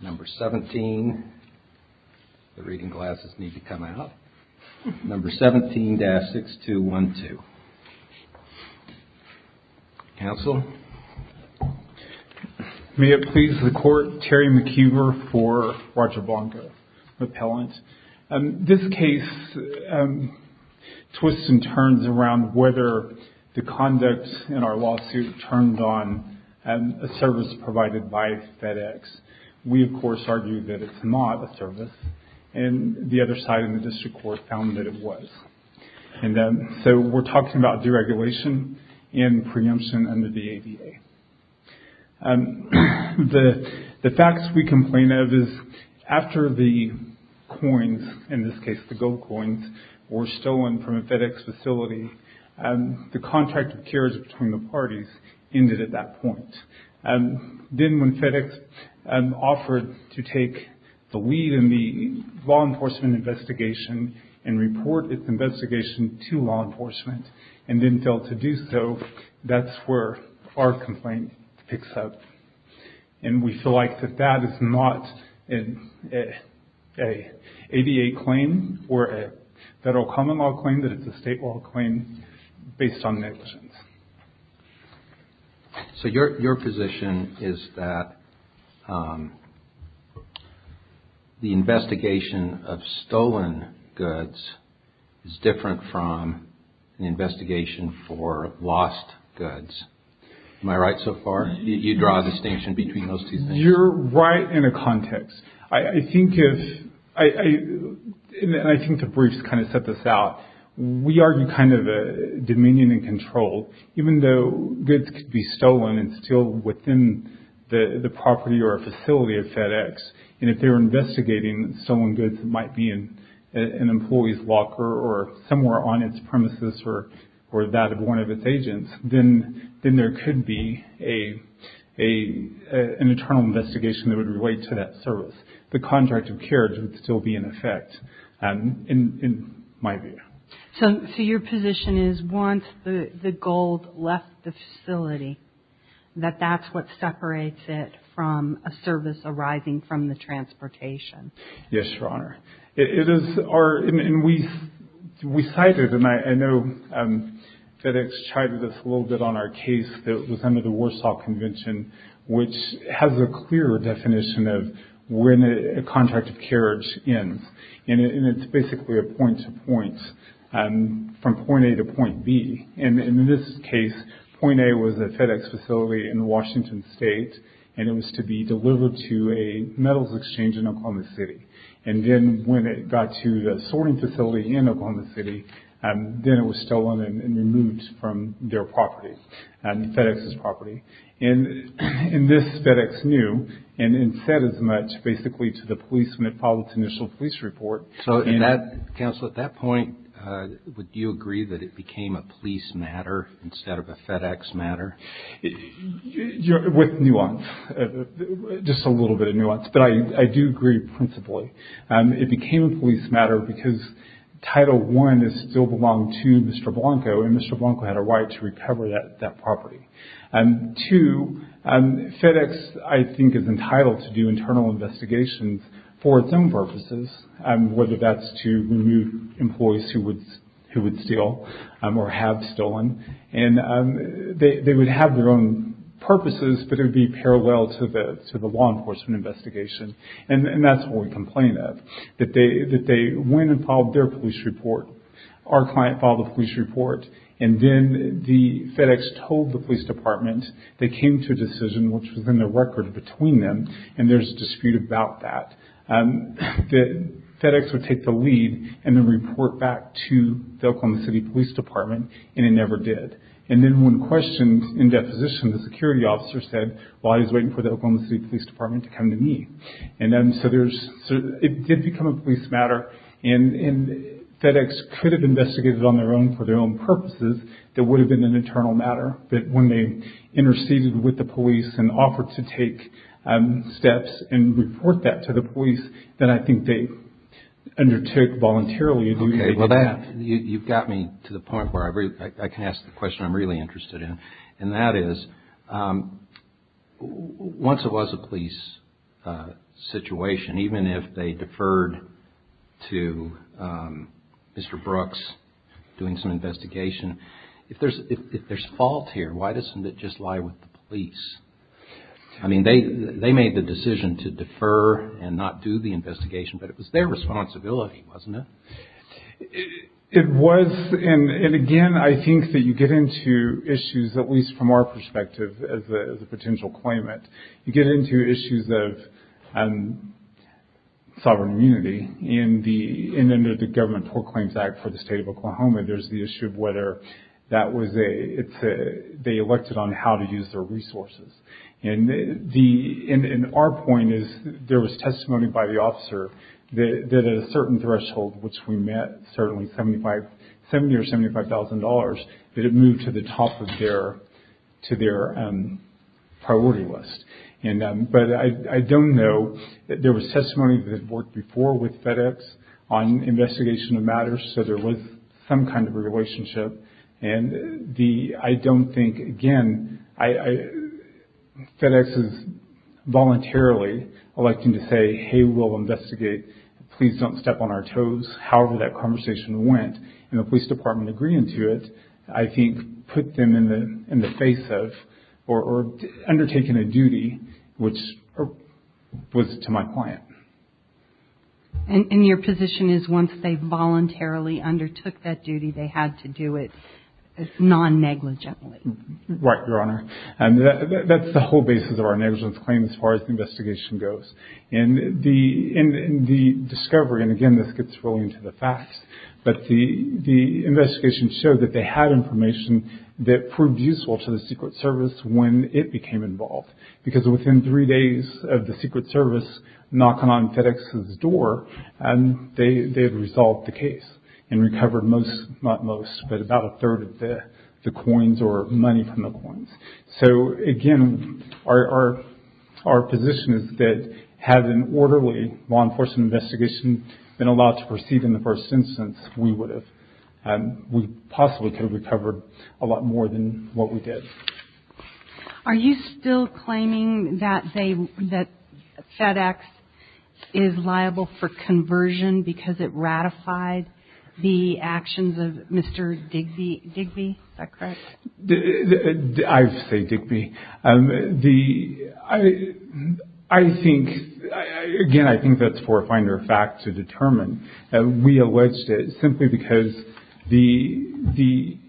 Number 17, the reading glasses need to come out, number 17-6212. Counsel? May it please the Court, Terry McHugh for Roger Blanco Appellant. This case twists and turns around whether the conduct in our lawsuit turned on a service provided by FedEx. We, of course, argue that it's not a service, and the other side in the district court found that it was. So we're talking about deregulation and preemption under the ADA. The facts we complain of is after the coins, in this case the gold coins, were stolen from a FedEx facility, the contract of cures between the parties ended at that point. Then when FedEx offered to take the lead in the law enforcement investigation and report its investigation to law enforcement and didn't fail to do so, that's where our complaint picks up. And we feel like that that is not an ADA claim or a federal common law claim, that it's a state law claim based on negligence. So your position is that the investigation of stolen goods is different from the investigation for lost goods. Am I right so far? You draw a distinction between those two things? You're right in the context. I think if – and I think the briefs kind of set this out. We argue kind of a dominion and control. Even though goods could be stolen and still within the property or a facility of FedEx, and if they were investigating stolen goods that might be in an employee's locker or somewhere on its premises or that of one of its agents, then there could be an internal investigation that would relate to that service. The contract of cures would still be in effect, in my view. So your position is once the gold left the facility, that that's what separates it from a service arising from the transportation? Yes, Your Honor. It is our – and we cited, and I know FedEx chided us a little bit on our case that was under the Warsaw Convention, which has a clear definition of when a contract of carriage ends. And it's basically a point-to-point, from point A to point B. And in this case, point A was a FedEx facility in Washington State, and it was to be delivered to a metals exchange in Oklahoma City. And then when it got to the sorting facility in Oklahoma City, then it was stolen and removed from their property, FedEx's property. And this FedEx knew and said as much, basically, to the policeman that filed its initial police report. So in that – Counsel, at that point, would you agree that it became a police matter instead of a FedEx matter? With nuance, just a little bit of nuance. But I do agree principally. It became a police matter because Title I still belonged to Mr. Blanco, and Mr. Blanco had a right to recover that property. Two, FedEx, I think, is entitled to do internal investigations for its own purposes, whether that's to remove employees who would steal or have stolen. And they would have their own purposes, but it would be parallel to the law enforcement investigation. And that's what we complain of, that they went and filed their police report. Our client filed a police report, and then the FedEx told the police department they came to a decision, which was in the record between them, and there's a dispute about that, that FedEx would take the lead and then report back to the Oklahoma City Police Department, and it never did. And then when questioned in deposition, the security officer said, well, I was waiting for the Oklahoma City Police Department to come to me. And then so there's – it did become a police matter, and FedEx could have investigated on their own for their own purposes that would have been an internal matter. But when they interceded with the police and offered to take steps and report that to the police, then I think they undertook voluntarily to do that. You've got me to the point where I can ask the question I'm really interested in, and that is, once it was a police situation, even if they deferred to Mr. Brooks doing some investigation, if there's fault here, why doesn't it just lie with the police? I mean, they made the decision to defer and not do the investigation, but it was their responsibility, wasn't it? It was, and again, I think that you get into issues, at least from our perspective, as a potential claimant. You get into issues of sovereign immunity. And under the Government Poor Claims Act for the State of Oklahoma, there's the issue of whether that was a – they elected on how to use their resources. And our point is there was testimony by the officer that at a certain threshold, which we met, certainly $70,000 or $75,000, that it moved to the top of their priority list. But I don't know – there was testimony that had worked before with FedEx on investigation of matters, so there was some kind of a relationship. And I don't think – again, FedEx is voluntarily electing to say, hey, we'll investigate. Please don't step on our toes. However that conversation went, and the police department agreeing to it, I think put them in the face of – or undertaken a duty which was to my client. And your position is once they voluntarily undertook that duty, they had to do it non-negligently? Right, Your Honor. That's the whole basis of our negligence claim as far as the investigation goes. And the discovery – and again, this gets really into the facts – but the investigation showed that they had information that proved useful to the Secret Service when it became involved. Because within three days of the Secret Service knocking on FedEx's door, they had resolved the case and recovered most – not most, but about a third of the coins or money from the coins. So again, our position is that had an orderly law enforcement investigation been allowed to proceed in the first instance, we would have – we possibly could have recovered a lot more than what we did. Are you still claiming that they – that FedEx is liable for conversion because it ratified the actions of Mr. Digby? Is that correct? I say Digby. The – I think – again, I think that's for a finer fact to determine. We alleged it simply because the –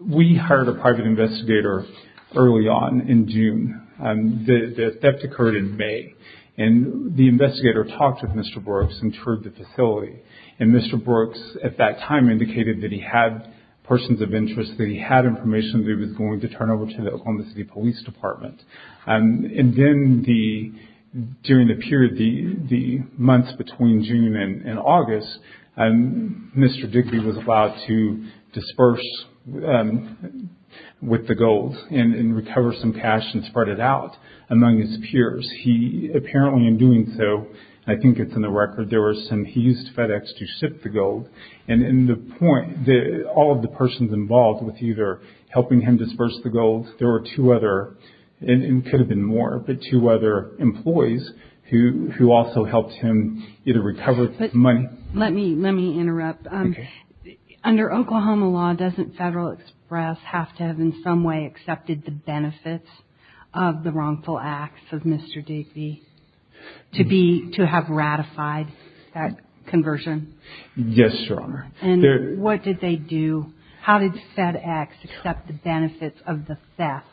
we hired a private investigator early on in June. The theft occurred in May. And the investigator talked with Mr. Brooks and toured the facility. And Mr. Brooks at that time indicated that he had persons of interest, that he had information that he was going to turn over to the Oklahoma City Police Department. And then the – during the period, the months between June and August, Mr. Digby was allowed to disperse with the gold and recover some cash and spread it out among his peers. He – apparently in doing so, I think it's in the record, there were some – he used FedEx to ship the gold. And in the point, all of the persons involved with either helping him disperse the gold, there were two other – it could have been more, but two other employees who also helped him either recover money. But let me – let me interrupt. Okay. Under Oklahoma law, doesn't Federal Express have to have in some way accepted the benefits of the wrongful acts of Mr. Digby to be – to have ratified that conversion? Yes, Your Honor. And what did they do? How did FedEx accept the benefits of the theft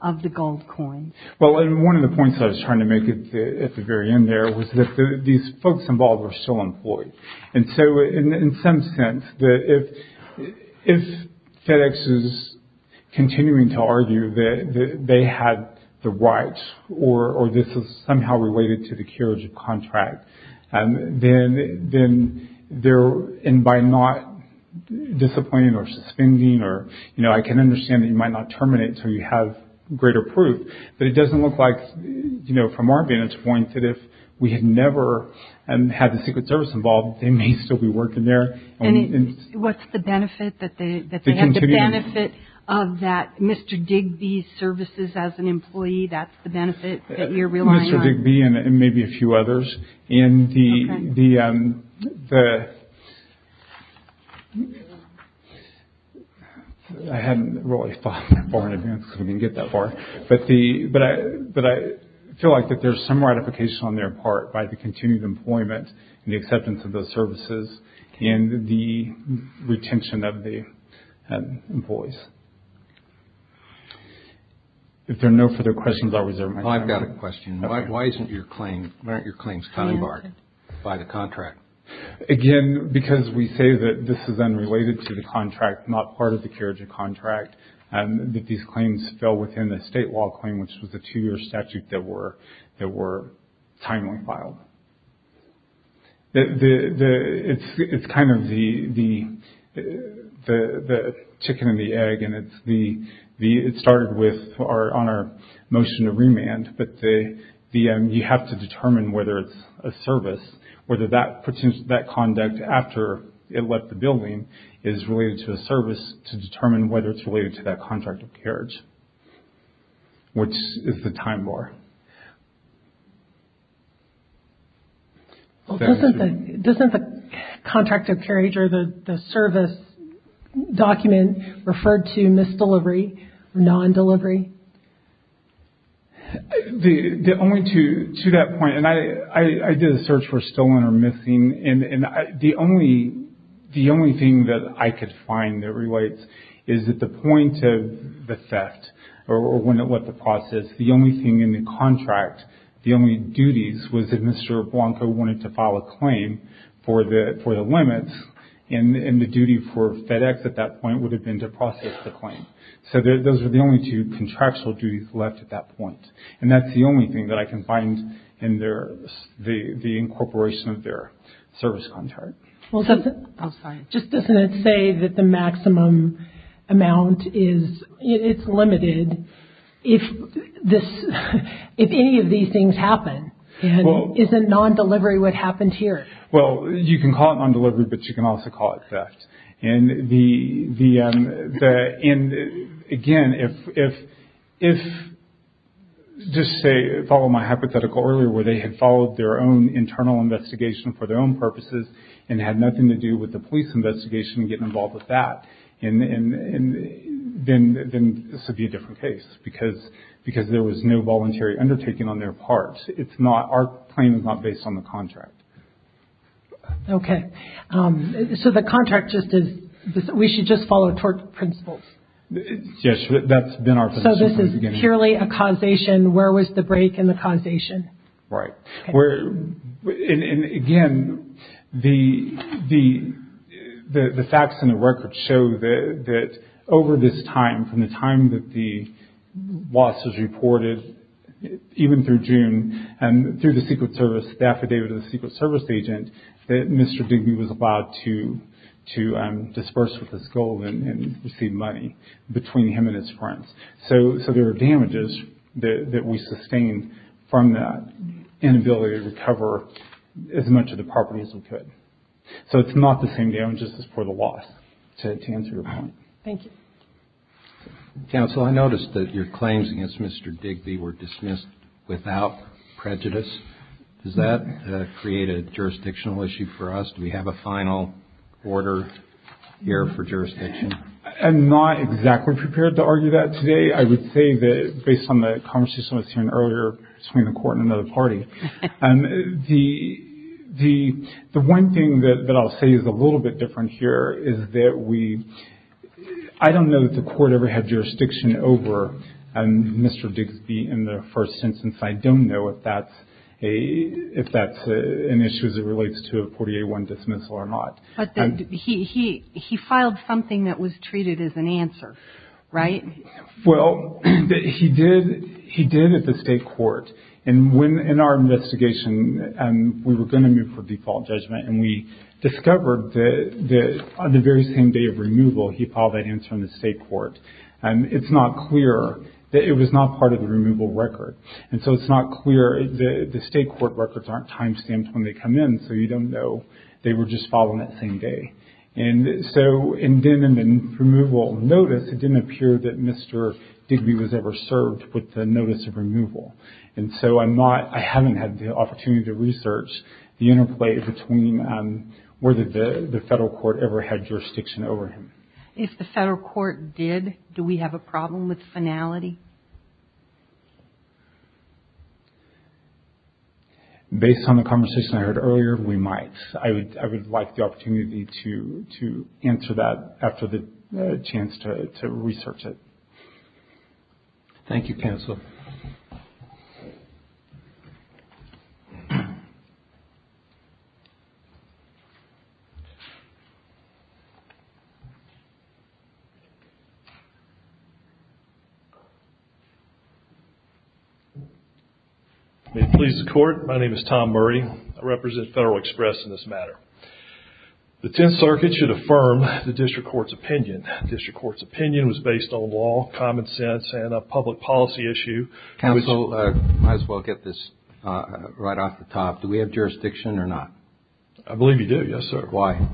of the gold coins? Well, one of the points I was trying to make at the very end there was that these folks involved were still employed. And so in some sense, if FedEx is continuing to argue that they had the rights or this is somehow related to the curage of contract, then they're – and by not disappointing or suspending or, you know, I can understand that you might not terminate until you have greater proof, but it doesn't look like, you know, from our vantage point that if we had never had the Secret Service involved, they may still be working there. And what's the benefit that they – that they had the benefit of that Mr. Digby services as an employee? That's the benefit that you're relying on? Mr. Digby and maybe a few others. Okay. And the – I hadn't really thought that far in advance because we didn't get that far. But the – but I feel like that there's some ratification on their part by the continued employment and the acceptance of those services and the retention of the employees. If there are no further questions, I'll reserve my time. I've got a question. Why isn't your claim – why aren't your claims kind of barred by the contract? Again, because we say that this is unrelated to the contract, not part of the curage of contract, that these claims fell within the state law claim, which was a two-year statute that were timely filed. It's kind of the chicken and the egg, and it's the – it started with our – on our motion to remand, but the – you have to determine whether it's a service, whether that conduct after it left the building is related to a service to determine whether it's related to that contract of courage, which is the time bar. Doesn't the contract of courage or the service document refer to misdelivery, non-delivery? The only – to that point, and I did a search for stolen or missing, and the only – the only thing that I could find that relates is that the point of the theft or when it left the process, the only thing in the contract, the only duties, was that Mr. Blanco wanted to file a claim for the limits, and the duty for FedEx at that point would have been to process the claim. So those were the only two contractual duties left at that point, and that's the only thing that I can find in their – the incorporation of their service contract. Well, doesn't – oh, sorry. Just doesn't it say that the maximum amount is – it's limited if this – if any of these things happen? And isn't non-delivery what happened here? Well, you can call it non-delivery, but you can also call it theft. And the – and, again, if – just say – follow my hypothetical earlier where they had followed their own internal investigation for their own purposes and had nothing to do with the police investigation and getting involved with that, and then this would be a different case because there was no voluntary undertaking on their part. It's not – our claim is not based on the contract. Okay. So the contract just is – we should just follow tort principles? Yes, that's been our position from the beginning. So this is purely a causation? Where was the break in the causation? Right. Okay. And, again, the facts and the records show that over this time, from the time that the loss was reported, even through June, and through the Secret Service, the affidavit of the Secret Service agent, that Mr. Digby was allowed to disperse with his gold and receive money between him and his friends. So there were damages that we sustained from that inability to recover as much of the property as we could. So it's not the same damages as for the loss, to answer your point. Thank you. Counsel, I noticed that your claims against Mr. Digby were dismissed without prejudice. Does that create a jurisdictional issue for us? Do we have a final order here for jurisdiction? I'm not exactly prepared to argue that today. I would say that, based on the conversation I was having earlier between the court and another party, the one thing that I'll say is a little bit different here is that we, I don't know that the court ever had jurisdiction over Mr. Digby in the first instance. I don't know if that's an issue as it relates to a 48-1 dismissal or not. He filed something that was treated as an answer, right? Well, he did at the state court. And when, in our investigation, we were going to move for default judgment, and we discovered that on the very same day of removal, he filed that answer in the state court. It's not clear that it was not part of the removal record. And so it's not clear, the state court records aren't time-stamped when they come in, so you don't know they were just filed on that same day. And so, and then in the removal notice, it didn't appear that Mr. Digby was ever served with the notice of removal. And so I'm not, I haven't had the opportunity to research the interplay between whether the federal court ever had jurisdiction over him. If the federal court did, do we have a problem with finality? Based on the conversation I heard earlier, we might. I would like the opportunity to answer that after the chance to research it. Thank you, counsel. May it please the court, my name is Tom Murray. I represent Federal Express in this matter. The Tenth Circuit should affirm the district court's opinion. District court's opinion was based on law, common sense, and a public policy issue. Counsel, I might as well get this right off the top. Do we have jurisdiction or not? I believe you do, yes, sir. Why?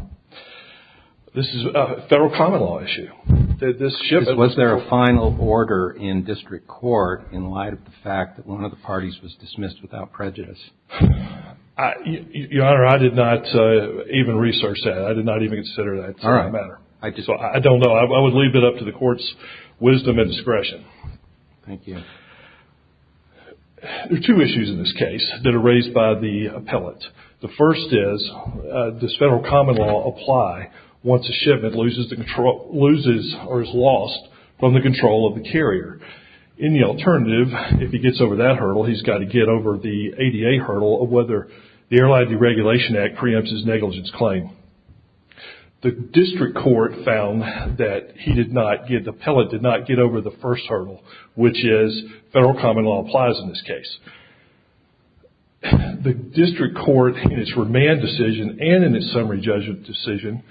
This is a federal common law issue. Was there a final order in district court in light of the fact that one of the parties was dismissed without prejudice? Your Honor, I did not even research that. I did not even consider that matter. I don't know. I would leave it up to the court's wisdom and discretion. Thank you. There are two issues in this case that are raised by the appellate. The first is, does federal common law apply once a shipment loses or is lost from the control of the carrier? In the alternative, if he gets over that hurdle, he's got to get over the ADA hurdle of whether the Airline Deregulation Act preempts his negligence claim. The district court found that the appellate did not get over the first hurdle, which is, federal common law applies in this case. The district court, in its remand decision and in its summary judgment decision,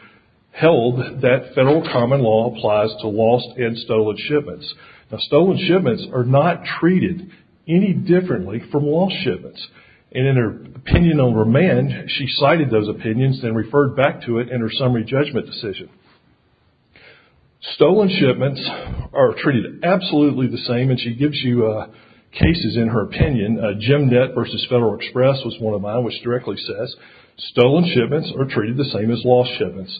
held that federal common law applies to lost and stolen shipments. Now, stolen shipments are not treated any differently from lost shipments. In her opinion on remand, she cited those opinions and referred back to it in her summary judgment decision. Stolen shipments are treated absolutely the same, and she gives you cases in her opinion. Jim Nett v. Federal Express was one of mine, which directly says, stolen shipments are treated the same as lost shipments.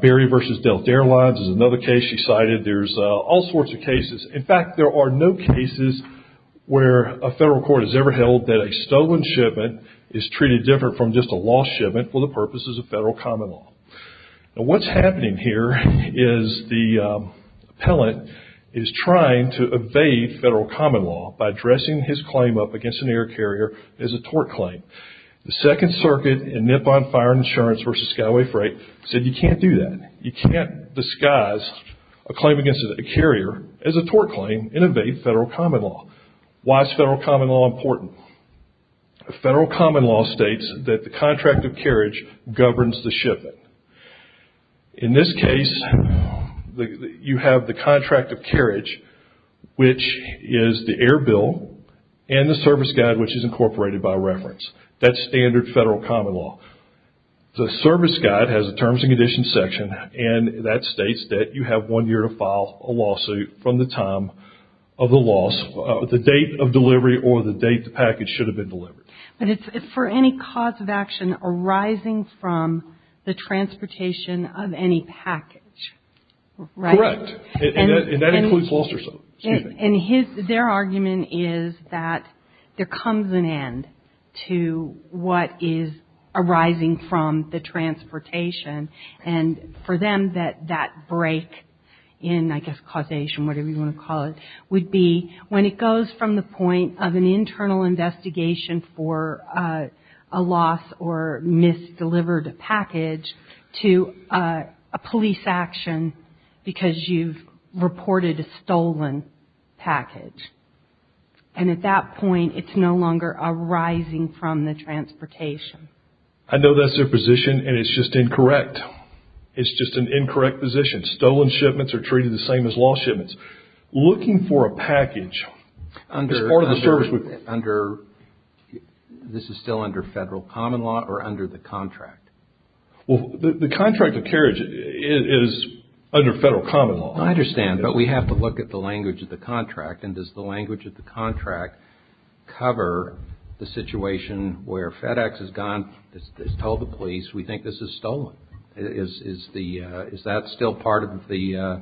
Barry v. Delta Airlines is another case she cited. There's all sorts of cases. In fact, there are no cases where a federal court has ever held that a stolen shipment is treated different from just a lost shipment for the purposes of federal common law. Now, what's happening here is the appellant is trying to evade federal common law by dressing his claim up against an air carrier as a tort claim. The Second Circuit in Nippon Fire and Insurance v. Skyway Freight said you can't do that. You can't disguise a claim against a carrier as a tort claim and evade federal common law. Why is federal common law important? Federal common law states that the contract of carriage governs the shipping. In this case, you have the contract of carriage, which is the air bill, and the service guide, which is incorporated by reference. That's standard federal common law. The service guide has a terms and conditions section, and that states that you have one year to file a lawsuit from the time of the loss, the date of delivery, or the date the package should have been delivered. But it's for any cause of action arising from the transportation of any package, right? Correct. And that includes lost or stolen. And their argument is that there comes an end to what is arising from the transportation. And for them, that break in, I guess, causation, whatever you want to call it, would be when it goes from the point of an internal investigation for a loss or misdelivered package to a police action because you've reported a stolen package. And at that point, it's no longer arising from the transportation. I know that's their position, and it's just incorrect. It's just an incorrect position. Stolen shipments are treated the same as lost shipments. Looking for a package as part of the service... This is still under federal common law or under the contract? Well, the contract of carriage is under federal common law. I understand. But we have to look at the language of the contract. And does the language of the contract cover the situation where FedEx has gone, has told the police, we think this is stolen? Is that still part of the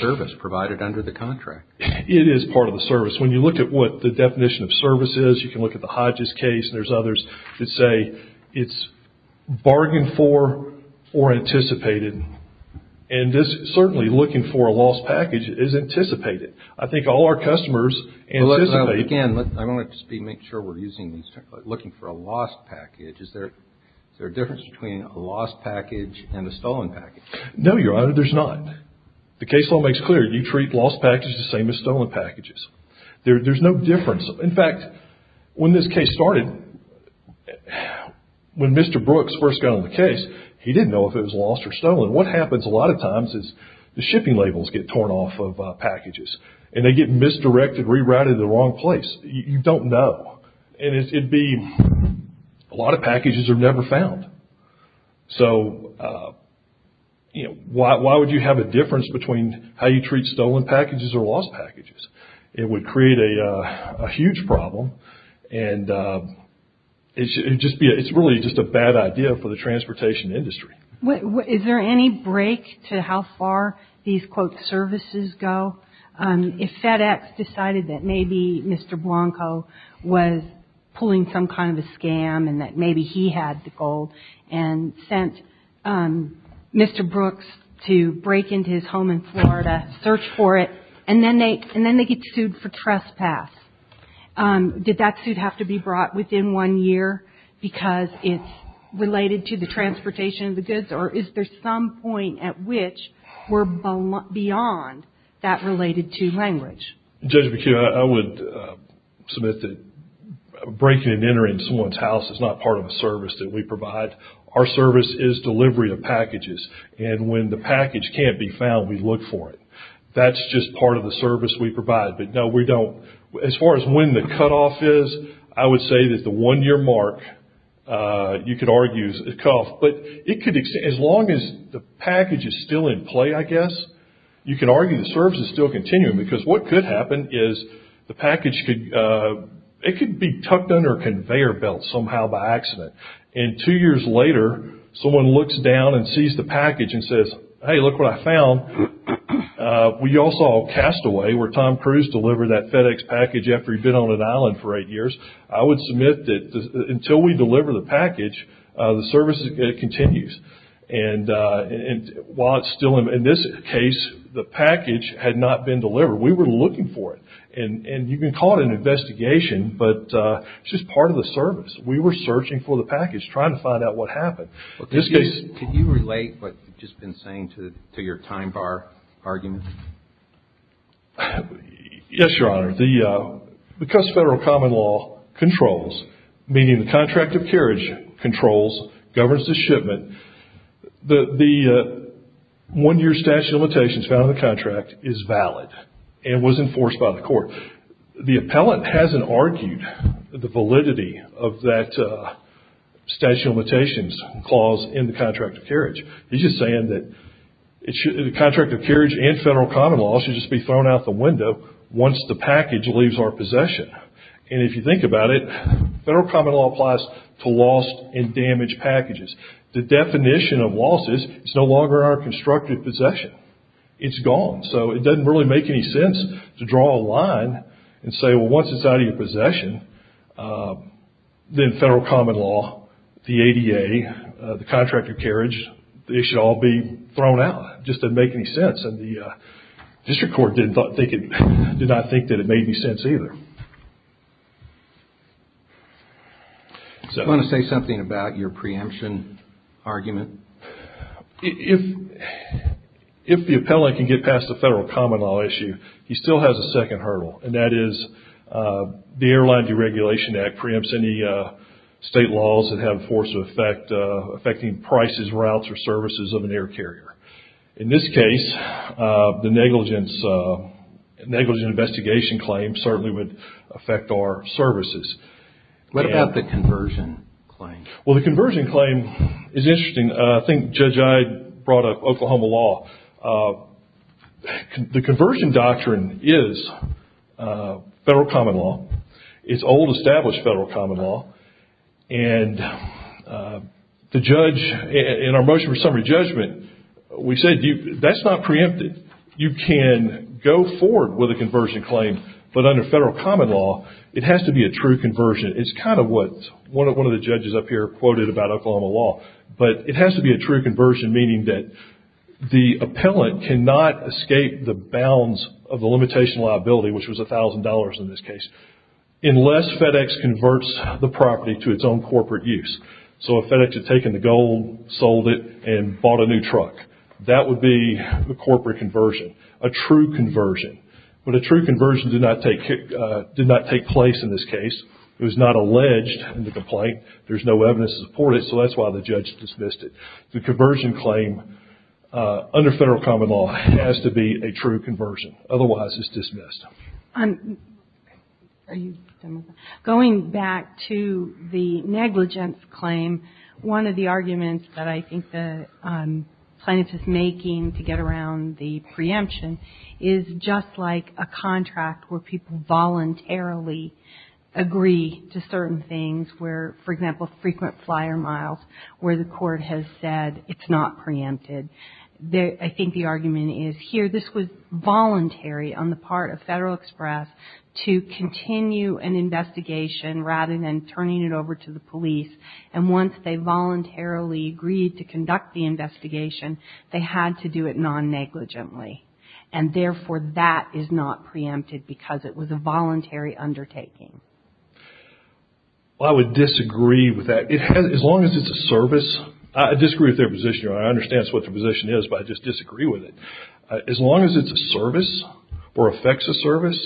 service provided under the contract? It is part of the service. When you look at what the definition of service is, you can look at the Hodges case, and there's others that say it's bargained for or anticipated. And certainly looking for a lost package is anticipated. I think all our customers anticipate... Again, I want to make sure we're looking for a lost package. Is there a difference between a lost package and a stolen package? No, Your Honor, there's not. The case law makes clear you treat lost packages the same as stolen packages. There's no difference. In fact, when this case started, when Mr. Brooks first got on the case, he didn't know if it was lost or stolen. What happens a lot of times is the shipping labels get torn off of packages. And they get misdirected, rerouted to the wrong place. You don't know. And it'd be a lot of packages are never found. So, you know, why would you have a difference between how you treat stolen packages or lost packages? It would create a huge problem, and it's really just a bad idea for the transportation industry. Is there any break to how far these, quote, services go? If FedEx decided that maybe Mr. Blanco was pulling some kind of a scam and that maybe he had the gold and sent Mr. Brooks to break into his home in Florida, search for it, and then they get sued for trespass, did that suit have to be brought within one year because it's related to the transportation of the goods? Or is there some point at which we're beyond that related to language? Judge McHugh, I would submit that breaking and entering someone's house is not part of a service that we provide. Our service is delivery of packages. And when the package can't be found, we look for it. That's just part of the service we provide. But, no, we don't, as far as when the cutoff is, I would say that the one-year mark, you could argue, is a cough. But it could, as long as the package is still in play, I guess, you could argue the service is still continuing. Because what could happen is the package could, it could be tucked under a conveyor belt somehow by accident. And two years later, someone looks down and sees the package and says, hey, look what I found. We also have Castaway, where Tom Cruise delivered that FedEx package after he'd been on an island for eight years. I would submit that until we deliver the package, the service continues. And while it's still in this case, the package had not been delivered. We were looking for it. And you can call it an investigation, but it's just part of the service. We were searching for the package, trying to find out what happened. Could you relate what you've just been saying to your time bar argument? Yes, Your Honor. Because federal common law controls, meaning the contract of carriage controls, governs the shipment, the one-year statute of limitations found in the contract is valid and was enforced by the court. So, the appellant hasn't argued the validity of that statute of limitations clause in the contract of carriage. He's just saying that the contract of carriage and federal common law should just be thrown out the window once the package leaves our possession. And if you think about it, federal common law applies to lost and damaged packages. The definition of loss is it's no longer our constructed possession. It's gone. So, it doesn't really make any sense to draw a line and say, well, once it's out of your possession, then federal common law, the ADA, the contract of carriage, they should all be thrown out. It just doesn't make any sense. And the district court did not think that it made any sense either. Do you want to say something about your preemption argument? If the appellant can get past the federal common law issue, he still has a second hurdle, and that is the Airline Deregulation Act preempts any state laws that have a force of effect affecting prices, routes, or services of an air carrier. In this case, the negligence investigation claim certainly would affect our services. What about the conversion claim? Well, the conversion claim is interesting. I think Judge Ide brought up Oklahoma law. The conversion doctrine is federal common law. It's old established federal common law. And the judge, in our motion for summary judgment, we said that's not preempted. You can go forward with a conversion claim, but under federal common law, it has to be a true conversion. It's kind of what one of the judges up here quoted about Oklahoma law. But it has to be a true conversion, meaning that the appellant cannot escape the bounds of the limitation liability, which was $1,000 in this case, unless FedEx converts the property to its own corporate use. So if FedEx had taken the gold, sold it, and bought a new truck, that would be a corporate conversion, a true conversion. But a true conversion did not take place in this case. It was not alleged in the complaint. There's no evidence to support it, so that's why the judge dismissed it. The conversion claim, under federal common law, has to be a true conversion. Otherwise, it's dismissed. Going back to the negligence claim, one of the arguments that I think the plaintiff is making to get around the preemption is just like a contract where people voluntarily agree to certain things where, for example, frequent flyer miles, where the court has said it's not preempted. I think the argument is here, this was voluntary on the part of Federal Express to continue an investigation rather than turning it over to the police. And once they voluntarily agreed to conduct the investigation, they had to do it non-negligently. And, therefore, that is not preempted because it was a voluntary undertaking. Well, I would disagree with that. As long as it's a service, I disagree with their position. I understand what their position is, but I just disagree with it. As long as it's a service or affects a service,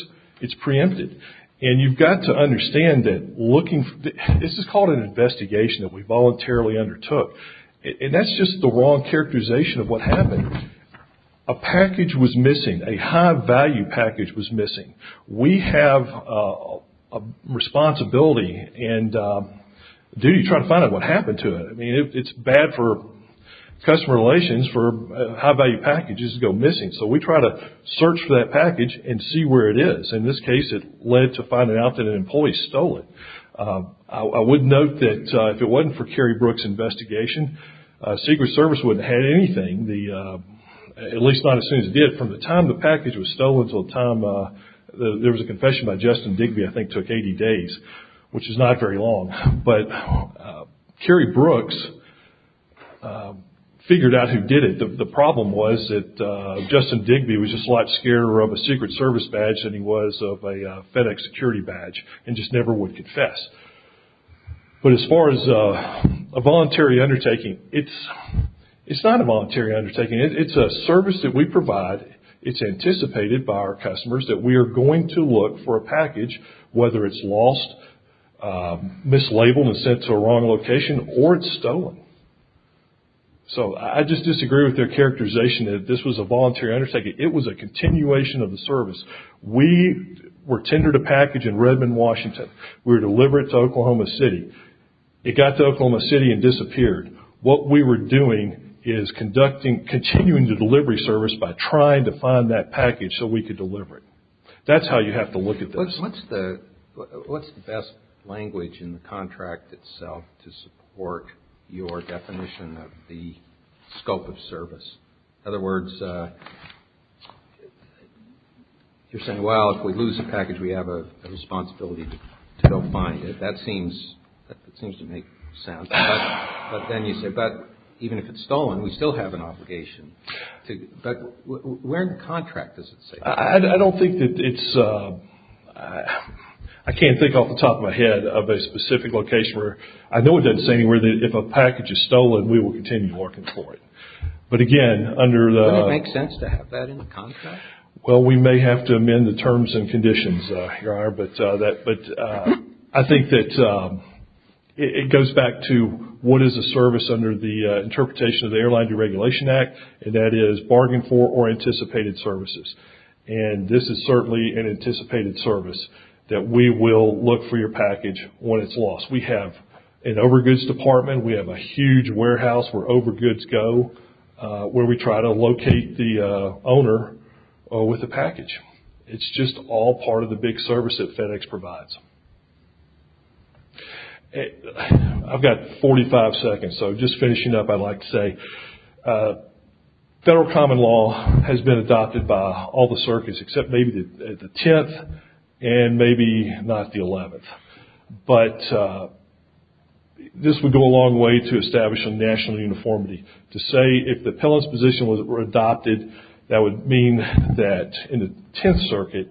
it's preempted. And you've got to understand that looking, this is called an investigation that we voluntarily undertook. And that's just the wrong characterization of what happened. A package was missing. A high-value package was missing. We have a responsibility and duty to try to find out what happened to it. I mean, it's bad for customer relations for high-value packages to go missing. So we try to search for that package and see where it is. In this case, it led to finding out that an employee stole it. I would note that if it wasn't for Carrie Brooks' investigation, Secret Service wouldn't have had anything. At least not as soon as it did. From the time the package was stolen to the time there was a confession by Justin Digby, I think it took 80 days, which is not very long. But Carrie Brooks figured out who did it. The problem was that Justin Digby was just a lot scarier of a Secret Service badge than he was of a FedEx security badge and just never would confess. But as far as a voluntary undertaking, it's not a voluntary undertaking. It's a service that we provide. It's anticipated by our customers that we are going to look for a package, whether it's lost, mislabeled and sent to a wrong location, or it's stolen. So I just disagree with their characterization that this was a voluntary undertaking. It was a continuation of the service. We were tendered a package in Redmond, Washington. We were delivering it to Oklahoma City. It got to Oklahoma City and disappeared. What we were doing is continuing the delivery service by trying to find that package so we could deliver it. That's how you have to look at this. What's the best language in the contract itself to support your definition of the scope of service? In other words, you're saying, well, if we lose the package, we have a responsibility to go find it. That seems to make sense. But then you say, but even if it's stolen, we still have an obligation. But where in the contract does it say that? I don't think that it's – I can't think off the top of my head of a specific location where – I know it doesn't say anywhere that if a package is stolen, we will continue working for it. But again, under the – Wouldn't it make sense to have that in the contract? Well, we may have to amend the terms and conditions, Your Honor. But I think that it goes back to what is a service under the Interpretation of the Airline Deregulation Act, and that is bargain for or anticipated services. And this is certainly an anticipated service that we will look for your package when it's lost. We have an overgoods department. We have a huge warehouse where overgoods go, where we try to locate the owner with the package. It's just all part of the big service that FedEx provides. I've got 45 seconds, so just finishing up, I'd like to say, federal common law has been adopted by all the circuits except maybe the 10th and maybe not the 11th. But this would go a long way to establishing national uniformity. To say if the appellant's position were adopted, that would mean that in the 10th Circuit,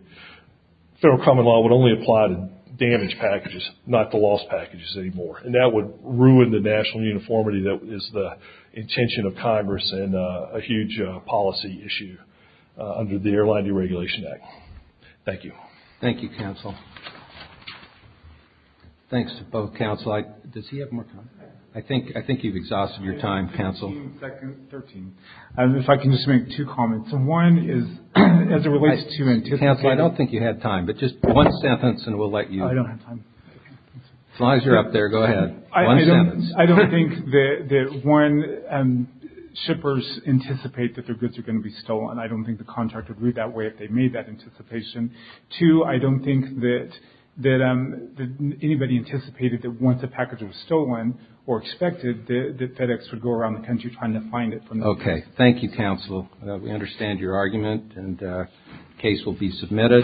federal common law would only apply to damaged packages, not to lost packages anymore. And that would ruin the national uniformity that is the intention of Congress and a huge policy issue under the Airline Deregulation Act. Thank you. Thank you, Counsel. Thanks to both Counsel. Does he have more time? I think you've exhausted your time, Counsel. 13 seconds. 13. If I can just make two comments. One is as it relates to anticipated. Counsel, I don't think you had time, but just one sentence and we'll let you. I don't have time. As long as you're up there, go ahead. One sentence. I don't think that Warren and shippers anticipate that their goods are going to be stolen. And I don't think the contract would read that way if they made that anticipation. Two, I don't think that anybody anticipated that once a package was stolen or expected, that FedEx would go around the country trying to find it. Okay. Thank you, Counsel. We understand your argument and the case will be submitted.